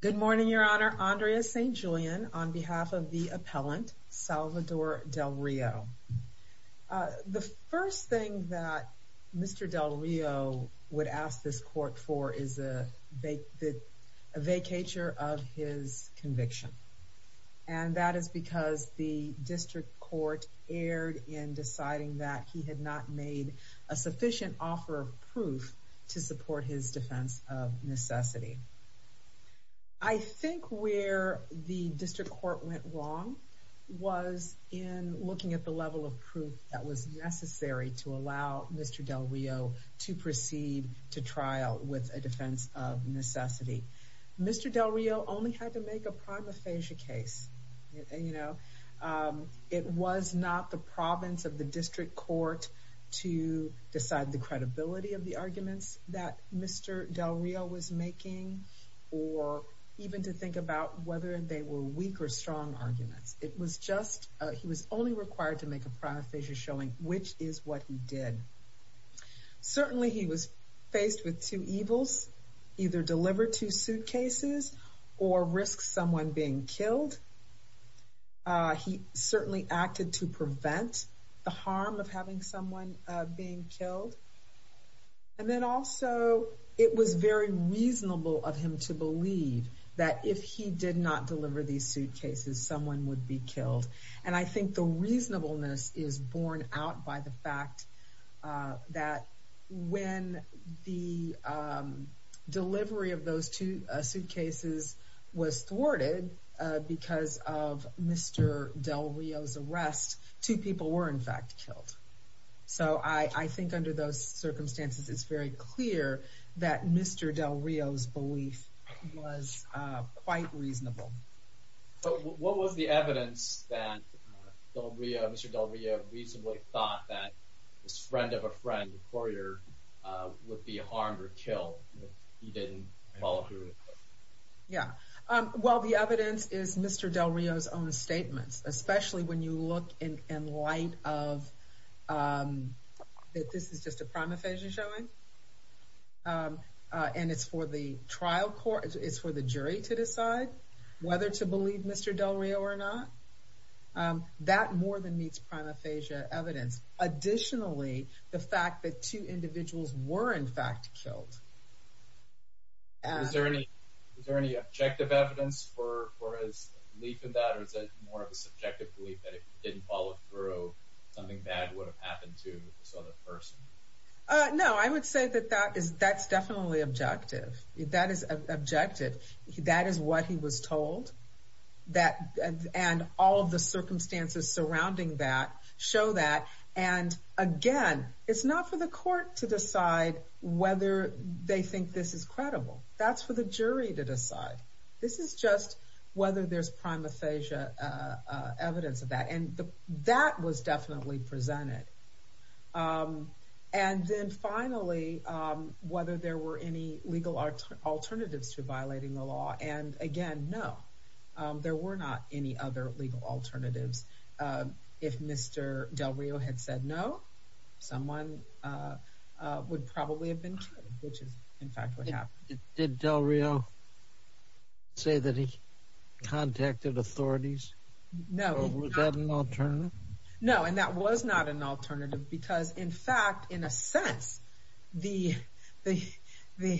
Good morning, Your Honor. Andrea St. Julian on behalf of the appellant Salvador Delrio. The first thing that Mr. Delrio would ask this court for is a vacatur of his conviction. And that is because the district court erred in deciding that he had not made a sufficient offer of proof to support his defense of necessity. I think where the district court went wrong was in looking at the level of proof that was necessary to allow Mr. Delrio to proceed to trial with a defense of necessity. Mr. Delrio only had to make a prima facie case. You know, it was not the province of the district court to decide the even to think about whether they were weak or strong arguments. It was just, he was only required to make a prima facie showing which is what he did. Certainly, he was faced with two evils, either deliver two suitcases or risk someone being killed. He certainly acted to prevent the harm of having someone being killed. And then also, it was very reasonable of him to believe that if he did not deliver these suitcases, someone would be killed. And I think the reasonableness is borne out by the fact that when the delivery of those two suitcases was thwarted because of Mr. Delrio's arrest, two people were, in fact, killed. So I think under those circumstances, it's very clear that Mr. Delrio's belief was quite reasonable. So what was the evidence that Mr. Delrio reasonably thought that his friend of a friend, a courier, would be harmed or killed if he didn't follow through? Yeah. Well, the evidence is Mr. Delrio's own statements, especially when you look in light of that this is just a prima facie showing. And it's for the trial court, it's for the jury to decide whether to believe Mr. Delrio or not. That more than meets prima facie evidence. Additionally, the fact that two individuals were, in fact, killed. Is there any objective evidence for his belief in that? Or is it more of a subjective belief that if he didn't follow through, something bad would have happened to this other person? No, I would say that that's definitely objective. That is objective. That is what he was told. And all of the circumstances surrounding that show that. And again, it's not for the court to decide whether they think this is credible. That's for the jury to decide. This is just whether there's prima facie evidence of that. And that was definitely presented. And then finally, whether there were any legal alternatives to violating the law. And again, no, there were not any other legal alternatives. If Mr. Delrio had said no, someone would probably have been killed, which is, in fact, what happened. Did Delrio say that he contacted authorities? No. Was that an alternative? No, and that was not an alternative because, in fact, in a sense, the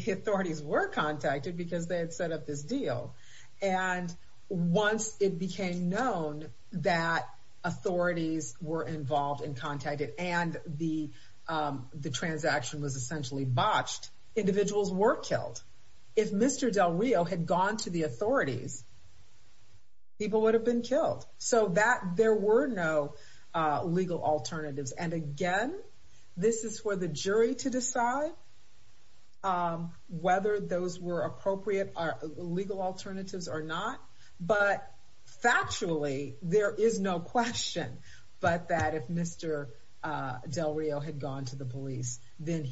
authorities were contacted because they had set up this deal. And once it became known that individuals were killed, if Mr. Delrio had gone to the authorities, people would have been killed. So there were no legal alternatives. And again, this is for the jury to decide whether those were appropriate legal alternatives or not. But factually, there is no question but that if Mr. Delrio had gone to the police, then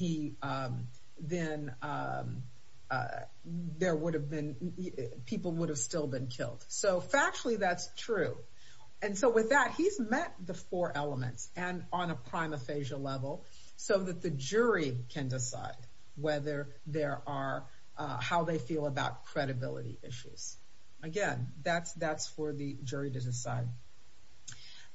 people would have still been killed. So factually, that's true. And so with that, he's met the four elements and on a prima facie level so that the jury can decide whether there are, how they feel about credibility issues. Again, that's for the jury to decide.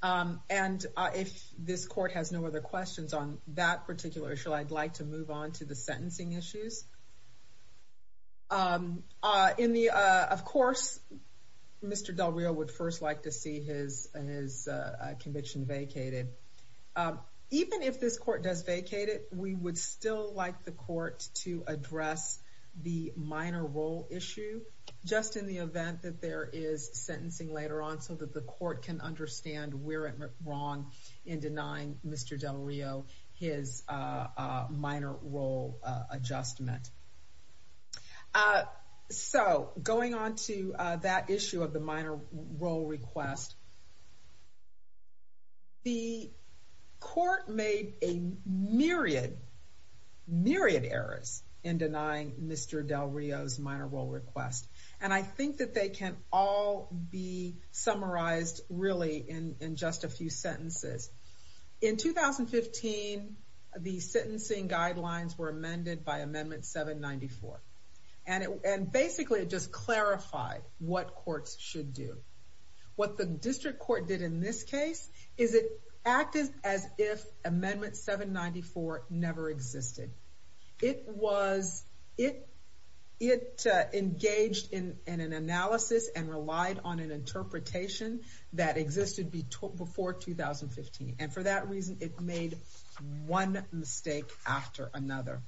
Okay. And if this court has no other questions on that particular issue, I'd like to move on to the sentencing issues. Of course, Mr. Delrio would first like to see his conviction vacated. Even if this court does vacate it, we would still like the court to address the minor role issue just in the event that there is sentencing later on so that the court can understand we're wrong in denying Mr. Delrio his minor role adjustment. So going on to that issue of the minor role request, the court made a myriad, myriad errors in denying Mr. Delrio's minor role request. And I think that they can all be summarized really in just a few sentences. In 2015, the sentencing guidelines were amended by Amendment 794. And basically, it just clarified what courts should do. What the district court did in this case is it acted as if Amendment 794 never existed. It engaged in an analysis and relied on an interpretation that existed before 2015. And for that reason, it made one mistake after another.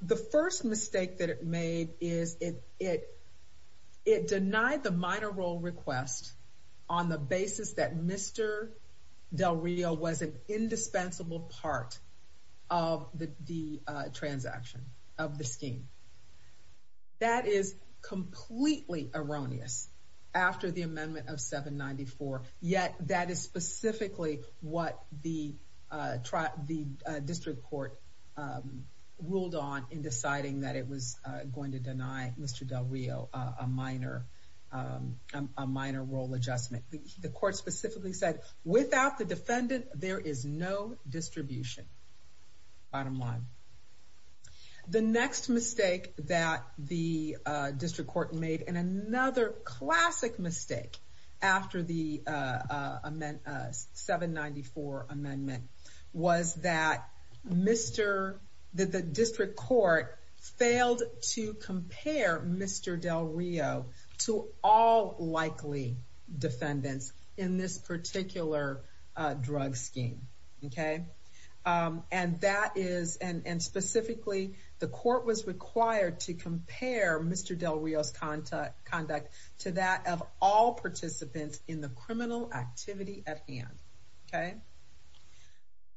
The first mistake that it made is it denied the minor role request on the basis that Mr. Delrio was an indispensable part of the transaction of the scheme. That is completely erroneous after the Amendment of 794, yet that is specifically what the district court ruled on in deciding that it was going to deny Mr. Delrio a minor role adjustment. The court specifically said, without the defendant, there is no distribution. Bottom line. The next mistake that the district court made, and another classic mistake after the 794 amendment, was that the district court failed to compare Mr. Delrio to all likely defendants in this particular drug scheme. And specifically, the court was required to compare Mr. Delrio's hand.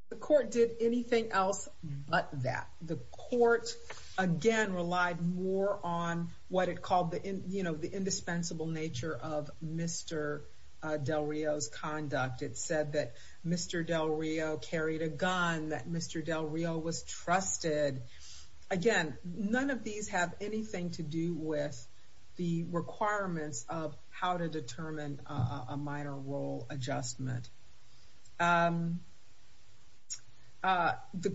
The court did anything else but that. The court again relied more on what it called the indispensable nature of Mr. Delrio's conduct. It said that Mr. Delrio carried a gun, that Mr. Delrio was trusted. Again, none of these have anything to do with the requirements of how to determine a minor role adjustment. The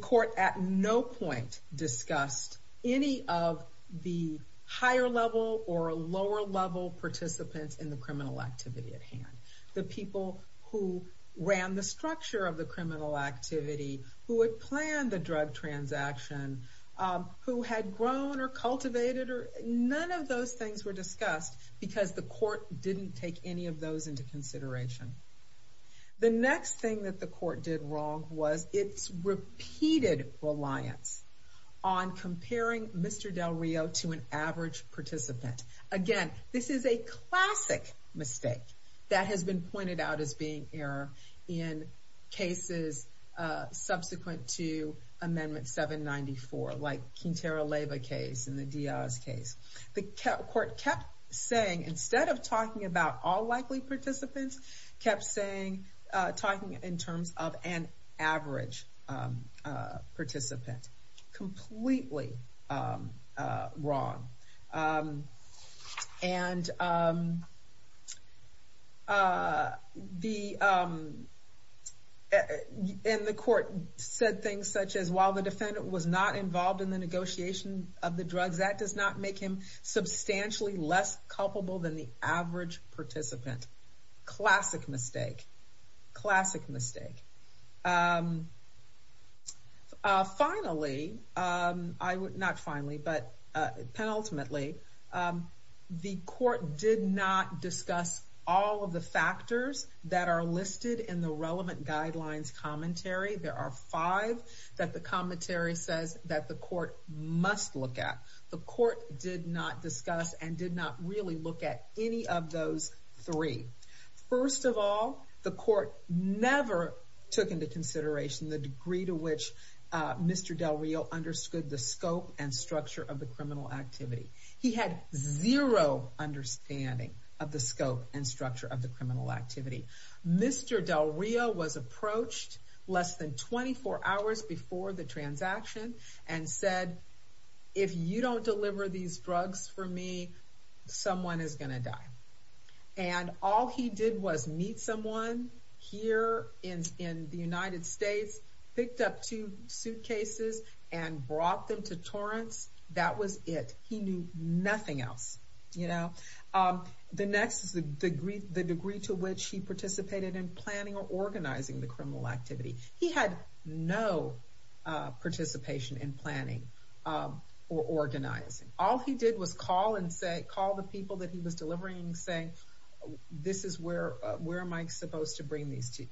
court at no point discussed any of the higher level or lower level participants in the criminal activity at hand. The people who ran the structure of the criminal activity, who had planned the drug transaction, who had grown or cultivated or none of those things were discussed because the court didn't take any of those into consideration. The next thing that the court did wrong was its repeated reliance on comparing Mr. Delrio to an average participant. Again, this is a classic mistake that has been pointed out as being error in cases subsequent to Amendment 794, like Quintero Leyva case and the Diaz case. The court kept saying, instead of talking about all likely participants, kept talking in terms of an average participant. The court said things such as, while the defendant was not involved in the negotiation of the drugs, that does not make him substantially less culpable than the average participant. Classic mistake. Classic mistake. Finally, not finally, but penultimately, the court did not discuss all of the factors that are listed in the relevant guidelines commentary. There are five that the commentary says that the court must look at. The court did not discuss and did not really look at any of those three. First of all, the court never took into consideration the degree to which Mr. Delrio understood the scope and structure of the criminal activity. He had zero understanding of the scope and structure of the criminal activity. Mr. Delrio was approached less than 24 hours before the transaction and said, if you don't deliver these drugs for me, someone is going to die. And all he did was meet someone here in the United States, picked up two suitcases and brought them to Torrance. That was it. He knew nothing else. The next is the degree to which he participated in planning or organizing the criminal activity. He had no participation in planning or organizing. All he did was call and say, call the people that he was delivering and say, this is where, where am I supposed to bring these two?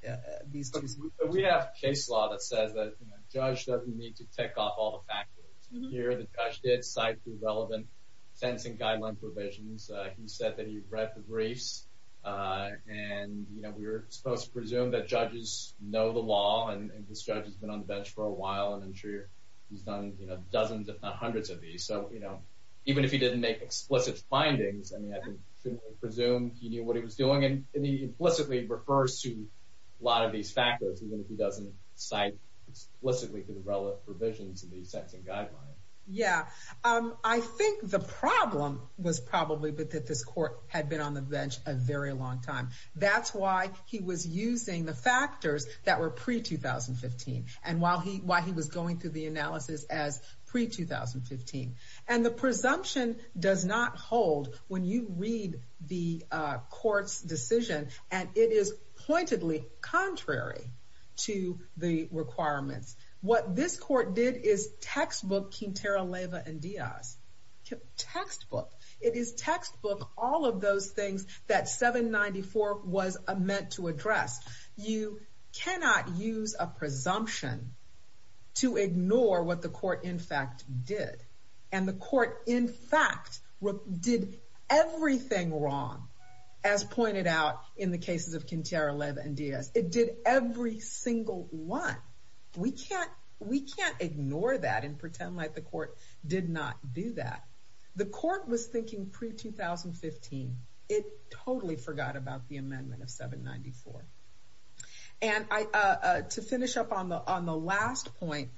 We have case law that says that a judge doesn't need to tick off all the factors here. The judge did cite the relevant sentencing guideline provisions. He said that he read the briefs and, you know, we were supposed to presume that judges know the law and this judge has been on the bench for a while and I'm sure he's done, you know, dozens if not hundreds of these. So, you know, even if he didn't make explicit findings, I mean, I can presumably presume he knew what he was doing and he implicitly refers to a lot of these factors, even if he doesn't cite explicitly the relevant provisions in the sentencing guideline. Yeah. I think the problem was probably that this court had been on the bench a very long time. That's why he was using the factors that were pre-2015 and while he was going through the analysis as pre-2015. And the presumption does not hold when you read the court's decision and it is pointedly contrary to the requirements. What this court did is textbook Quintero, Leyva, and Diaz. Textbook. It is textbook, all of those things that 794 was meant to address. You cannot use a presumption to ignore what the court in fact did. And the court in fact did everything wrong as pointed out in the cases of Quintero, Leyva, and Diaz. It did every single one. We can't ignore that and pretend like the court did not do that. The court was thinking pre-2015. It totally forgot about the amendment of 794. And to finish up on the last point,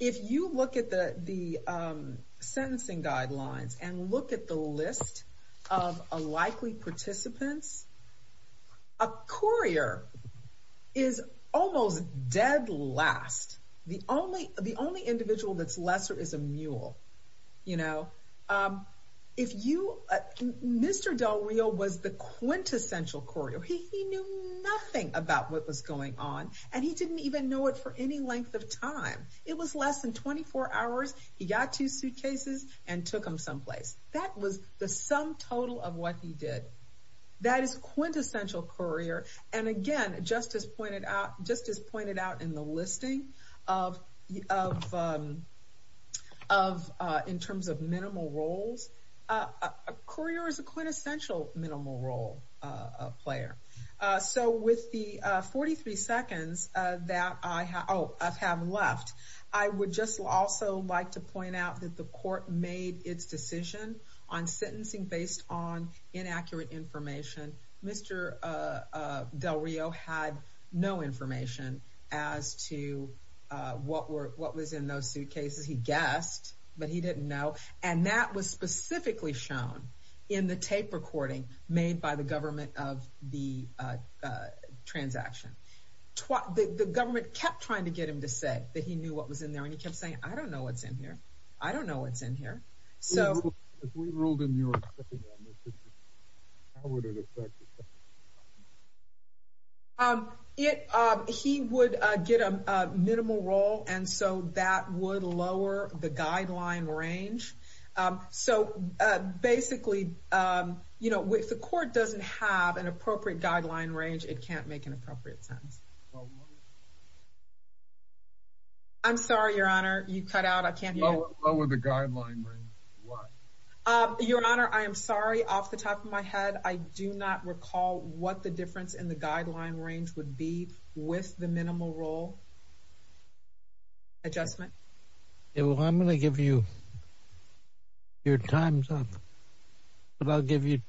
if you look at the sentencing guidelines and look at the list of likely participants, a courier is almost dead last. The only individual that's lesser is a mule. You know, if you, Mr. Del Rio was the quintessential courier. He knew nothing about what was going on and he didn't even know it for any length of time. It was less than 24 hours. He got two suitcases and took them someplace. That was the sum total of what he did. That is quintessential courier. And again, just as pointed out in the listing of in terms of minimal roles, a courier is a quintessential minimal role player. So with the 43 seconds that I have left, I would just also like to point out that the court made its decision on sentencing based on inaccurate information. Mr. Del Rio had no information as to what was in those suitcases. He guessed, but he didn't know. And that was specifically shown in the tape recording made by the government of the transaction. The government kept trying to get him to say that he knew what was in there and he kept saying, I don't know what's in here. I don't know what's in here. So if we ruled in New York, how would it affect? He would get a minimal role and so that would lower the guideline range. So basically, you know, if the court doesn't have an appropriate guideline range, it can't make an appropriate sentence. I'm sorry, Your Honor. You cut out. I can't hear you. Lower the guideline range. Why? Your Honor, I am sorry. Off the top of my head, I do not recall what the difference in the guideline range would be with the minimal role adjustment. Yeah, well, I'm going to give you your time's up, but I'll give you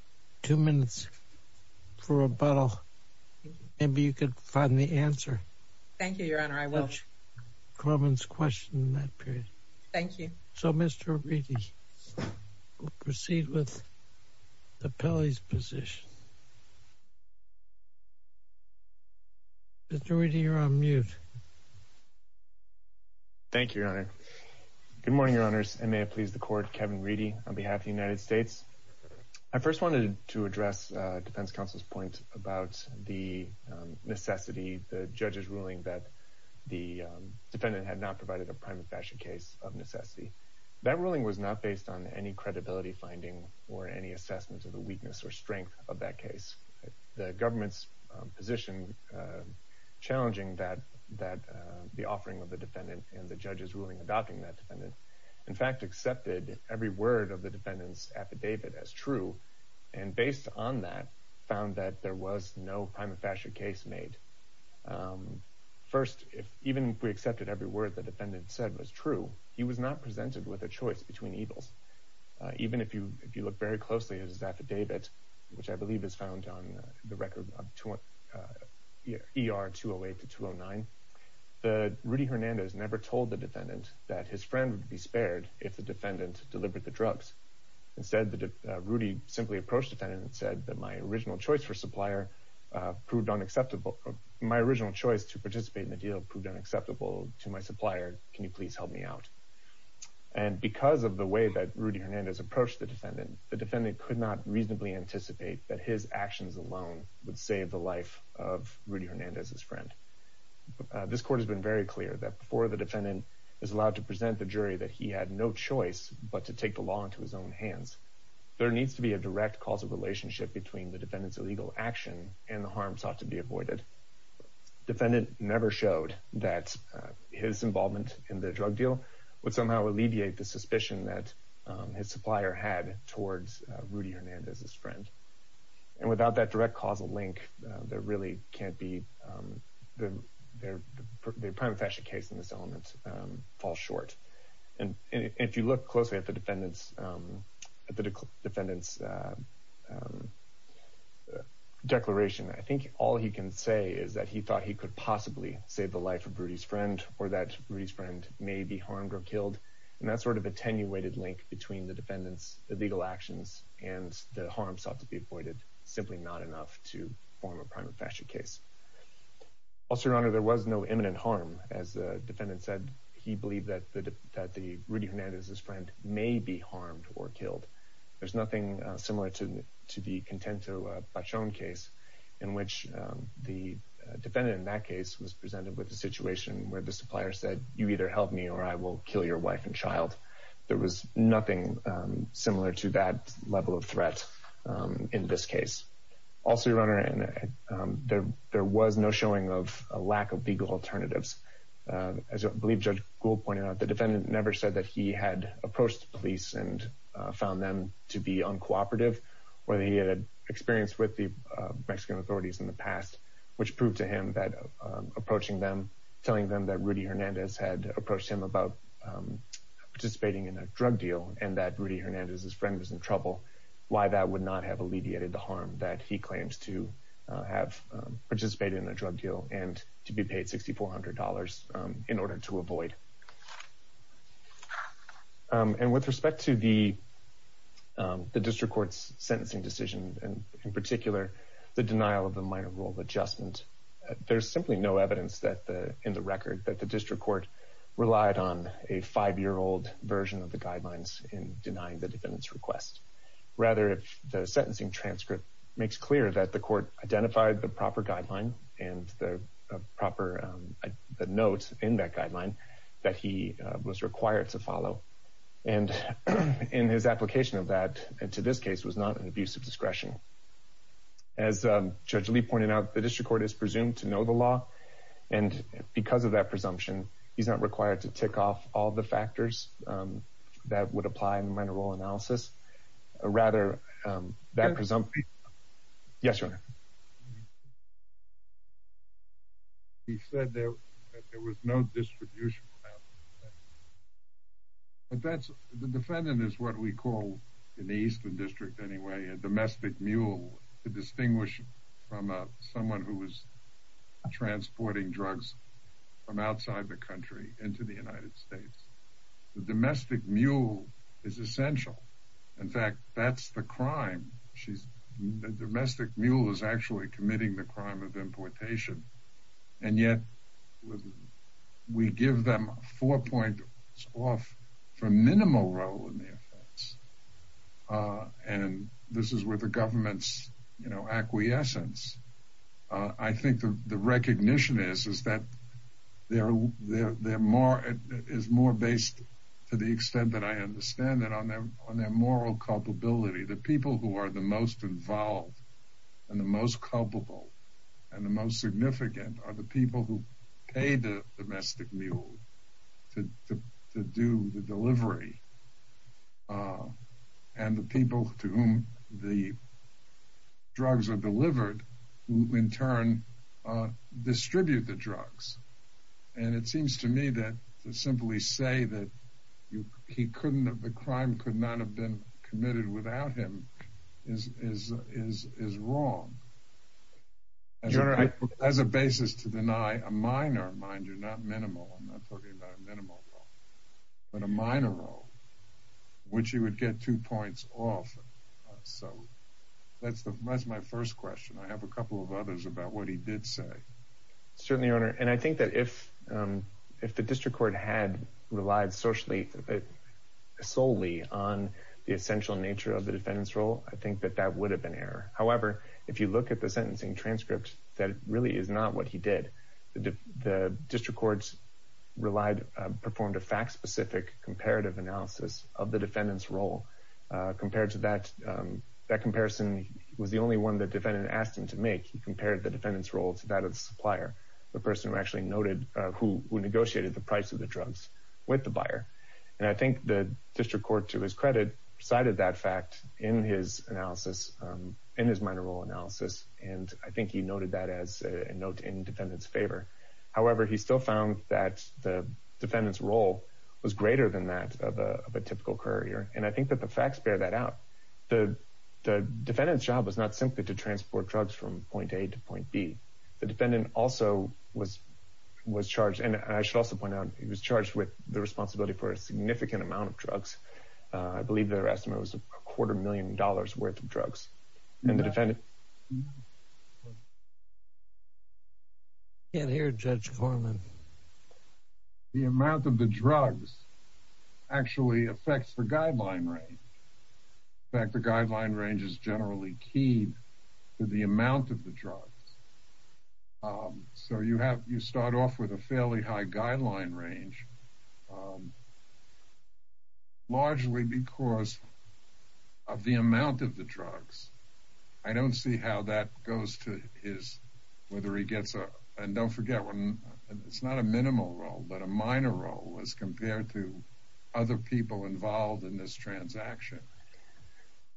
two minutes for rebuttal. Maybe you could find the answer. Thank you, Your Honor. I will. Corwin's question in that period. Thank you. So, Mr. Reedy, we'll proceed with the Pele's position. Mr. Reedy, you're on mute. Thank you, Your Honor. Good morning, Your Honors. And may it please the court, defense counsel's point about the necessity, the judge's ruling that the defendant had not provided a prime and fashion case of necessity. That ruling was not based on any credibility finding or any assessment of the weakness or strength of that case. The government's position challenging that the offering of the defendant and the judge's ruling adopting that defendant, in fact, accepted every word of the defendant's affidavit as true, and based on that, found that there was no prime and fashion case made. First, even if we accepted every word the defendant said was true, he was not presented with a choice between evils. Even if you look very closely at his affidavit, which I believe is found on the record of ER 208 to 209, Rudy Hernandez never told the defendant that his friend would be spared if the defendant delivered the drugs. Instead, Rudy simply approached the defendant and said that my original choice to participate in the deal proved unacceptable to my supplier. Can you please help me out? And because of the way that Rudy Hernandez approached the defendant, the defendant could not reasonably anticipate that his actions alone would save the life of Rudy Hernandez's friend. This court has been very clear that before the defendant is allowed to present the jury that he had no choice but to take the law into his own hands, there needs to be a direct causal relationship between the defendant's illegal action and the harm sought to be avoided. Defendant never showed that his involvement in the drug deal would somehow alleviate the suspicion that his supplier had towards Rudy Hernandez's friend. And without that direct causal link, there really can't be the prime and fashion case in this fall short. And if you look closely at the defendant's declaration, I think all he can say is that he thought he could possibly save the life of Rudy's friend or that Rudy's friend may be harmed or killed. And that sort of attenuated link between the defendant's illegal actions and the harm sought to be avoided is simply not enough to form a prime and fashion case. Also, Your Honor, there was no imminent harm. As the defendant said, he believed that Rudy Hernandez's friend may be harmed or killed. There's nothing similar to the Contento Bachon case in which the defendant in that case was presented with a situation where the supplier said, you either help me or I will kill your wife and child. There was nothing similar to that level of threat in this case. Also, Your Honor, there was no showing of a lack of legal alternatives. As I believe Judge Gould pointed out, the defendant never said that he had approached the police and found them to be uncooperative, whether he had experience with the Mexican authorities in the past, which proved to him that approaching them, telling them that Rudy Hernandez had approached him about participating in a drug deal and that Rudy Hernandez's friend was in trouble, why that would not have alleviated the harm that he claims to have participated in a drug deal and to be paid $6,400 in order to avoid. And with respect to the district court's sentencing decision, and in particular, the denial of the minor rule adjustment, there's simply no evidence in the record that the district court relied on a five-year-old version of the guidelines in denying the defendant's request. Rather, the sentencing transcript makes clear that the court identified the proper guideline and the proper note in that guideline that he was required to follow. And in his application of that to this case was not an abuse of discretion. As Judge Lee pointed out, the district court is he's not required to tick off all the factors that would apply in the minor role analysis, or rather that presumption. Yes, sir. He said that there was no distribution. But that's the defendant is what we call in the Eastern District anyway, a domestic mule to distinguish from someone who was transporting drugs from outside the country into the United States. The domestic mule is essential. In fact, that's the crime. She's the domestic mule is actually committing the crime of importation. And yet, we give them four points off from minimal role in the offense. And this is where the government's, you know, acquiescence. I think the recognition is, is that they're, they're, they're more is more based to the extent that I understand that on their, on their moral culpability, the people who are the most involved and the most culpable and the most significant are the people who pay the domestic mule to do the delivery. And the people to whom the drugs are delivered, in turn, distribute the drugs. And it seems to me that to simply say that he couldn't have the crime could not have been committed without him is is is is wrong. As a basis to deny a minor mind you're minimal. I'm not talking about a minimal role, but a minor role, which you would get two points off. So that's the, that's my first question. I have a couple of others about what he did say. Certainly your honor. And I think that if, if the district court had relied socially, solely on the essential nature of the defendant's role, I think that that would have been error. However, if you look at the sentencing transcript, that really is not what he did. The district courts relied, performed a fact-specific comparative analysis of the defendant's role compared to that. That comparison was the only one that defendant asked him to make. He compared the defendant's role to that of the supplier, the person who actually noted who negotiated the price of the drugs with the buyer. And I think the district court, to his credit, cited that fact in his analysis, in his minor role analysis. And I think he noted that as a note in his favor. However, he still found that the defendant's role was greater than that of a typical courier. And I think that the facts bear that out. The defendant's job was not simply to transport drugs from point A to point B. The defendant also was, was charged. And I should also point out, he was charged with the responsibility for a significant amount of drugs. I believe their estimate was a quarter million dollars worth of drugs. And the defendant. Can't hear Judge Corman. The amount of the drugs actually affects the guideline range. In fact, the guideline range is generally keyed to the amount of the drugs. So you have, you start off with a fairly high guideline range, largely because of the amount of the drugs. I don't see how that goes to his, whether he gets a minimum role. And don't forget, it's not a minimal role, but a minor role as compared to other people involved in this transaction.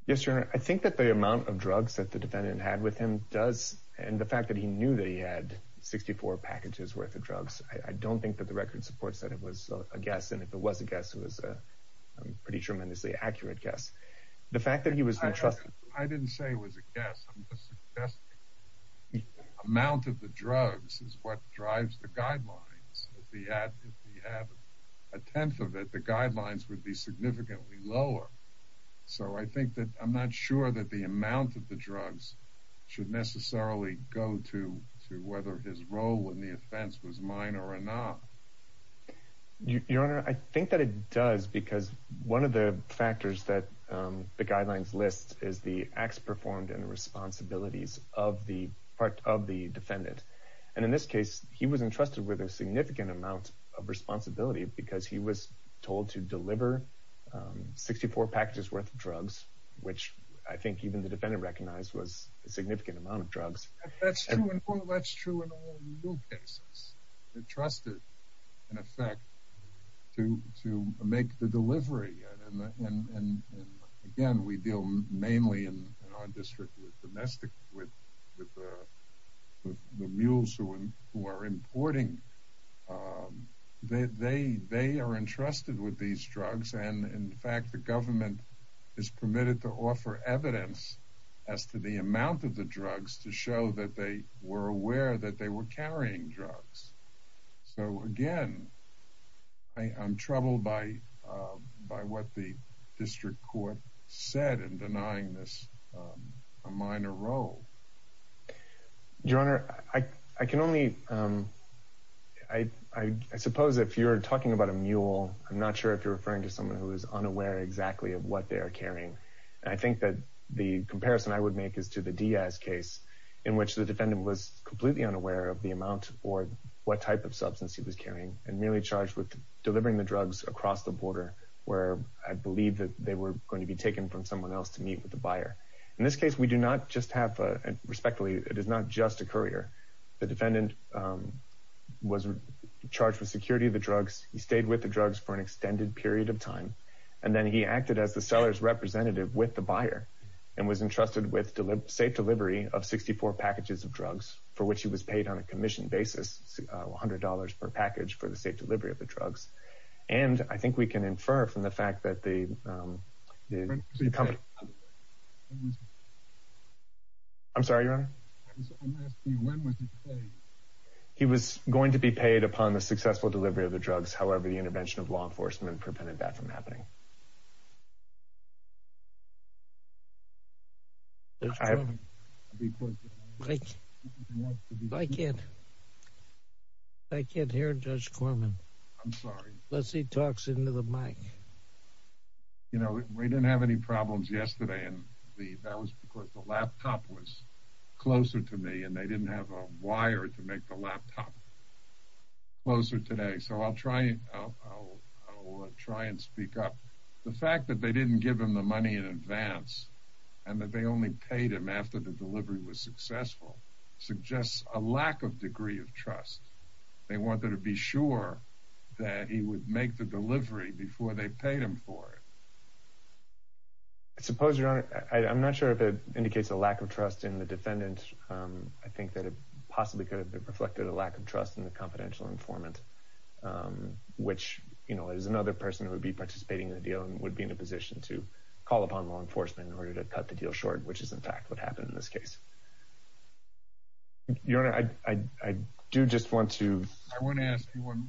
Yes, sir. I think that the amount of drugs that the defendant had with him does, and the fact that he knew that he had 64 packages worth of drugs, I don't think that the record supports that it was a guess. And if it was a guess, it was a pretty tremendously accurate guess. The fact that he was entrusted. I didn't say it was a guess. I'm just suggesting the amount of the drugs is what drives the guidelines. If he had a tenth of it, the guidelines would be significantly lower. So I think that I'm not sure that the amount of the drugs should necessarily go to whether his role in the offense was minor or not. Your Honor, I think that it does because one of the factors that the guidelines list is the acts performed and responsibilities of the defendant. And in this case, he was entrusted with a significant amount of responsibility because he was told to deliver 64 packages worth of drugs, which I think even the defendant recognized was a significant amount of drugs. That's true in all legal cases. They're trusted, in effect, to make the delivery. And again, we deal mainly in our district with the mules who are importing. They are entrusted with these drugs. And in fact, the government is permitted to offer evidence as to the amount of the drugs to show that they were aware that they were carrying drugs. So again, I'm troubled by what the district court said in denying this a minor role. Your Honor, I suppose if you're talking about a mule, I'm not sure if you're referring to someone who is unaware exactly of what they are carrying. And I think that the comparison I would make is the Diaz case, in which the defendant was completely unaware of the amount or what type of substance he was carrying and merely charged with delivering the drugs across the border, where I believe that they were going to be taken from someone else to meet with the buyer. In this case, we do not just have, respectfully, it is not just a courier. The defendant was charged with security of the drugs. He stayed with the drugs for an extended period of time. And then he acted as the seller's representative with the buyer and was entrusted with safe delivery of 64 packages of drugs for which he was paid on a commission basis, $100 per package for the safe delivery of the drugs. And I think we can infer from the fact that the company... I'm sorry, Your Honor? I'm asking you, when was he paid? He was going to be paid upon the successful delivery of the drugs. However, the intervention of law enforcement prevented that from happening. I can't hear Judge Corman. I'm sorry. Unless he talks into the mic. You know, we didn't have any problems yesterday. And that was because the laptop was closer to me and they didn't have a wire to make the laptop closer today. So I'll try and speak up. The fact that they didn't give him the money in advance and that they only paid him after the delivery was successful suggests a lack of degree of trust. They wanted to be sure that he would make the delivery before they paid him for it. I suppose, Your Honor, I'm not sure if it indicates a lack of trust in the defendant. I think that it possibly could have reflected a lack of trust in the confidential informant, which, you know, is another person who would be participating in the deal and would be in a position to call upon law enforcement in order to cut the deal short, which is in fact what happened in this case. Your Honor, I do just want to... I want to ask you one...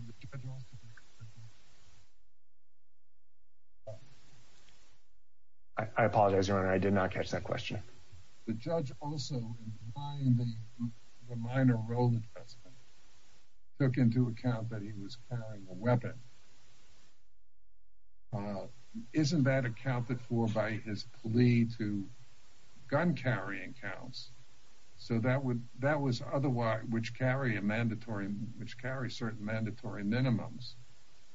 I apologize, Your Honor. I did not catch that question. The judge also, in defying the minor role of the defendant, took into account that he was carrying a weapon. Isn't that accounted for by his plea to gun-carrying counts? So that would... that carry a mandatory... which carry certain mandatory minimums.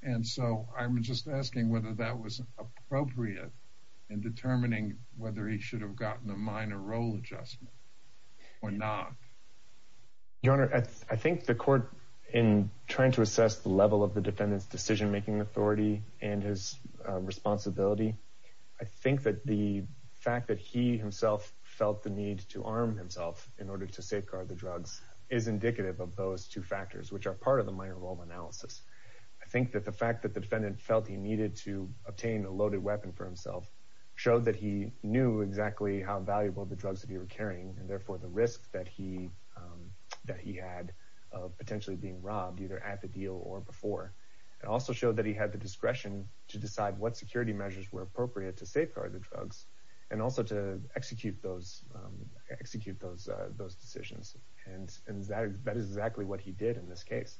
And so I'm just asking whether that was appropriate in determining whether he should have gotten a minor role adjustment or not. Your Honor, I think the court, in trying to assess the level of the defendant's decision-making authority and his responsibility, I think that the fact that he himself felt the need to arm himself in order to safeguard the drugs is indicative of those two factors, which are part of the minor role analysis. I think that the fact that the defendant felt he needed to obtain a loaded weapon for himself showed that he knew exactly how valuable the drugs that he was carrying and therefore the risk that he had of potentially being robbed, either at the deal or before. It also showed that he had the discretion to decide what security measures were appropriate to safeguard the drugs and also to execute those decisions. And that is exactly what he did in this case.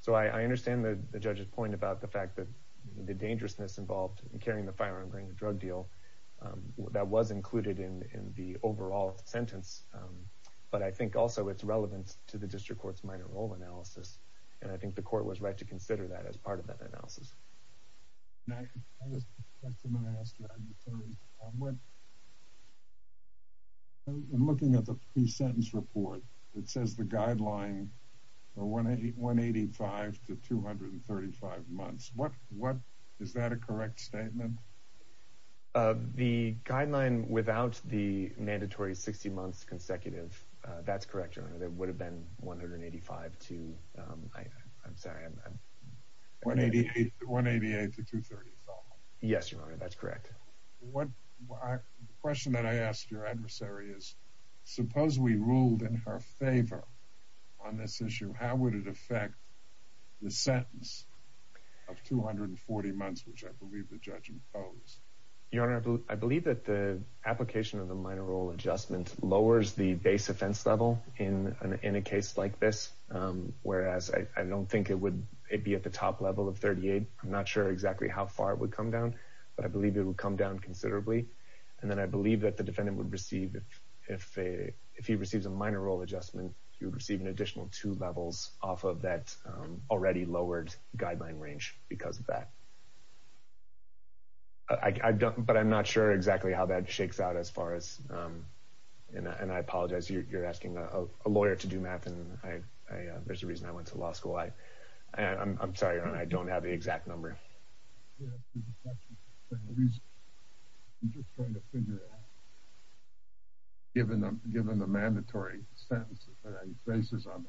So I understand the judge's point about the fact that the dangerousness involved in carrying the firearm during the drug deal. That was included in the overall sentence, but I think also it's relevant to the district court's minor role analysis. And I think the court was right to consider that as part of that analysis. I have a question I'm going to ask you. I'm looking at the pre-sentence report that says the guideline for 185 to 235 months. Is that a correct statement? The guideline without the mandatory 60 months consecutive, that's correct, Your Honor. 188 to 235. Yes, Your Honor, that's correct. The question that I asked your adversary is, suppose we ruled in her favor on this issue, how would it affect the sentence of 240 months, which I believe the judge imposed? Your Honor, I believe that the application of the minor role adjustment lowers the base offense level in a case like this, whereas I don't think it would be at the top level of 38. I'm not sure exactly how far it would come down, but I believe it would come down considerably. And then I believe that the defendant would receive, if he receives a minor role adjustment, he would receive an additional two levels off of that already lowered guideline range because of that. I don't, but I'm not sure exactly how that shakes out as far as, and I apologize, you're asking a lawyer to do math, and there's a reason I went to law school. I'm sorry, Your Honor, I don't have the exact number. I'm just trying to figure out, given the mandatory sentence that he faces on the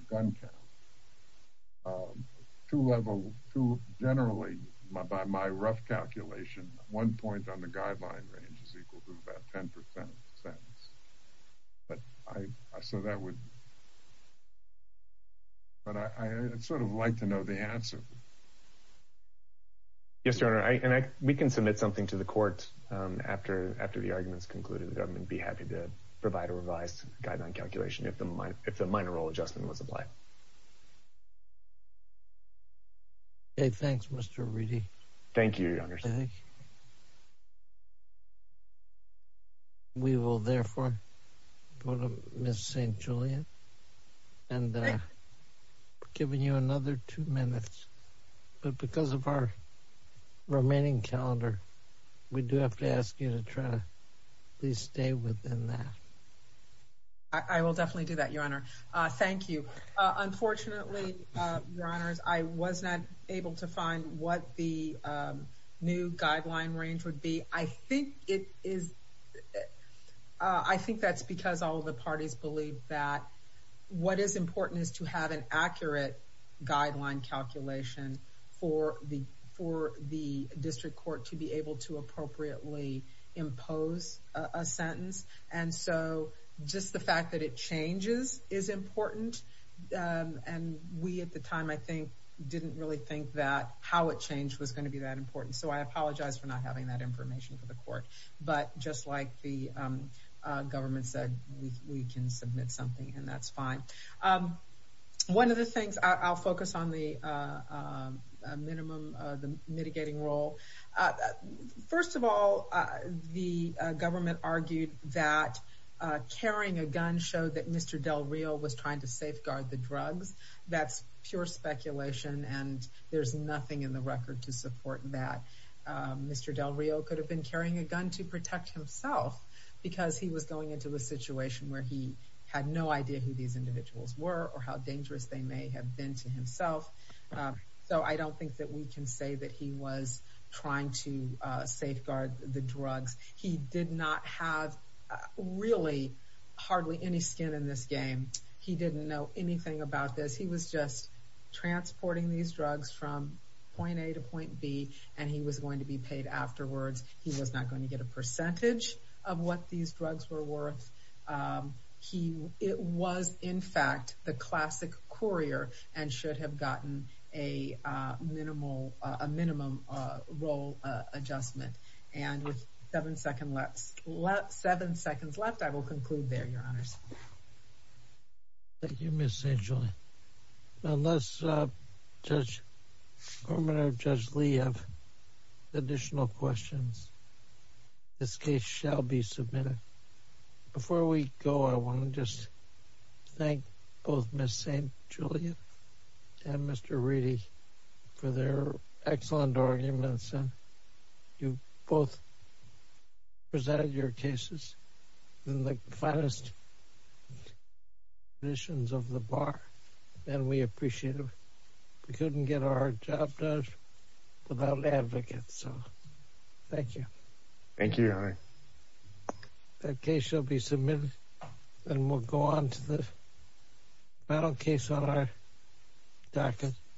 rough calculation, one point on the guideline range is equal to about 10 percent of the sentence. But I, so that would, but I'd sort of like to know the answer. Yes, Your Honor, and I, we can submit something to the court after the argument's concluded. The government would be happy to provide a revised guideline calculation if the minor role adjustment was applied. Okay, thanks, Mr. Reedy. Thank you, Your Honor. We will, therefore, go to Ms. St. Julian and giving you another two minutes, but because of our remaining calendar, we do have to ask you to try to please stay within that. I will definitely do that, Your Honor. Thank you. Unfortunately, Your Honors, I was not able to find what the new guideline range would be. I think it is, I think that's because all the parties believe that what is important is to have an accurate guideline calculation for the, district court to be able to appropriately impose a sentence, and so just the fact that it changes is important, and we at the time, I think, didn't really think that how it changed was going to be that important. So I apologize for not having that information for the court, but just like the government said, we can submit something, and that's fine. One of the things, I'll focus on the mitigating role. First of all, the government argued that carrying a gun showed that Mr. Del Rio was trying to safeguard the drugs. That's pure speculation, and there's nothing in the record to support that. Mr. Del Rio could have been carrying a gun to protect himself, because he was going into a situation where he had no idea who these individuals were, or how dangerous they may have been to himself. So I don't think that we can say that he was trying to safeguard the drugs. He did not have really hardly any skin in this game. He didn't know anything about this. He was just transporting these drugs from point A to point B, and he was going to be paid afterwards. He was not going to get a percentage of what these drugs were worth. He was, in fact, the classic courier, and should have gotten a minimum role adjustment. And with seven seconds left, I will conclude there, Your Honors. Thank you, Ms. St. Julie. Unless Judge Gorman or Judge Lee have additional questions, this case shall be submitted. Before we go, I want to just thank both Ms. St. Julie and Mr. Reedy for their excellent arguments, and you both presented your cases in the finest conditions of the bar, and we appreciate it. We couldn't get our job done without advocates, so thank you. Thank you, Your Honor. That case shall be submitted, and we'll go on to the battle case on our docket.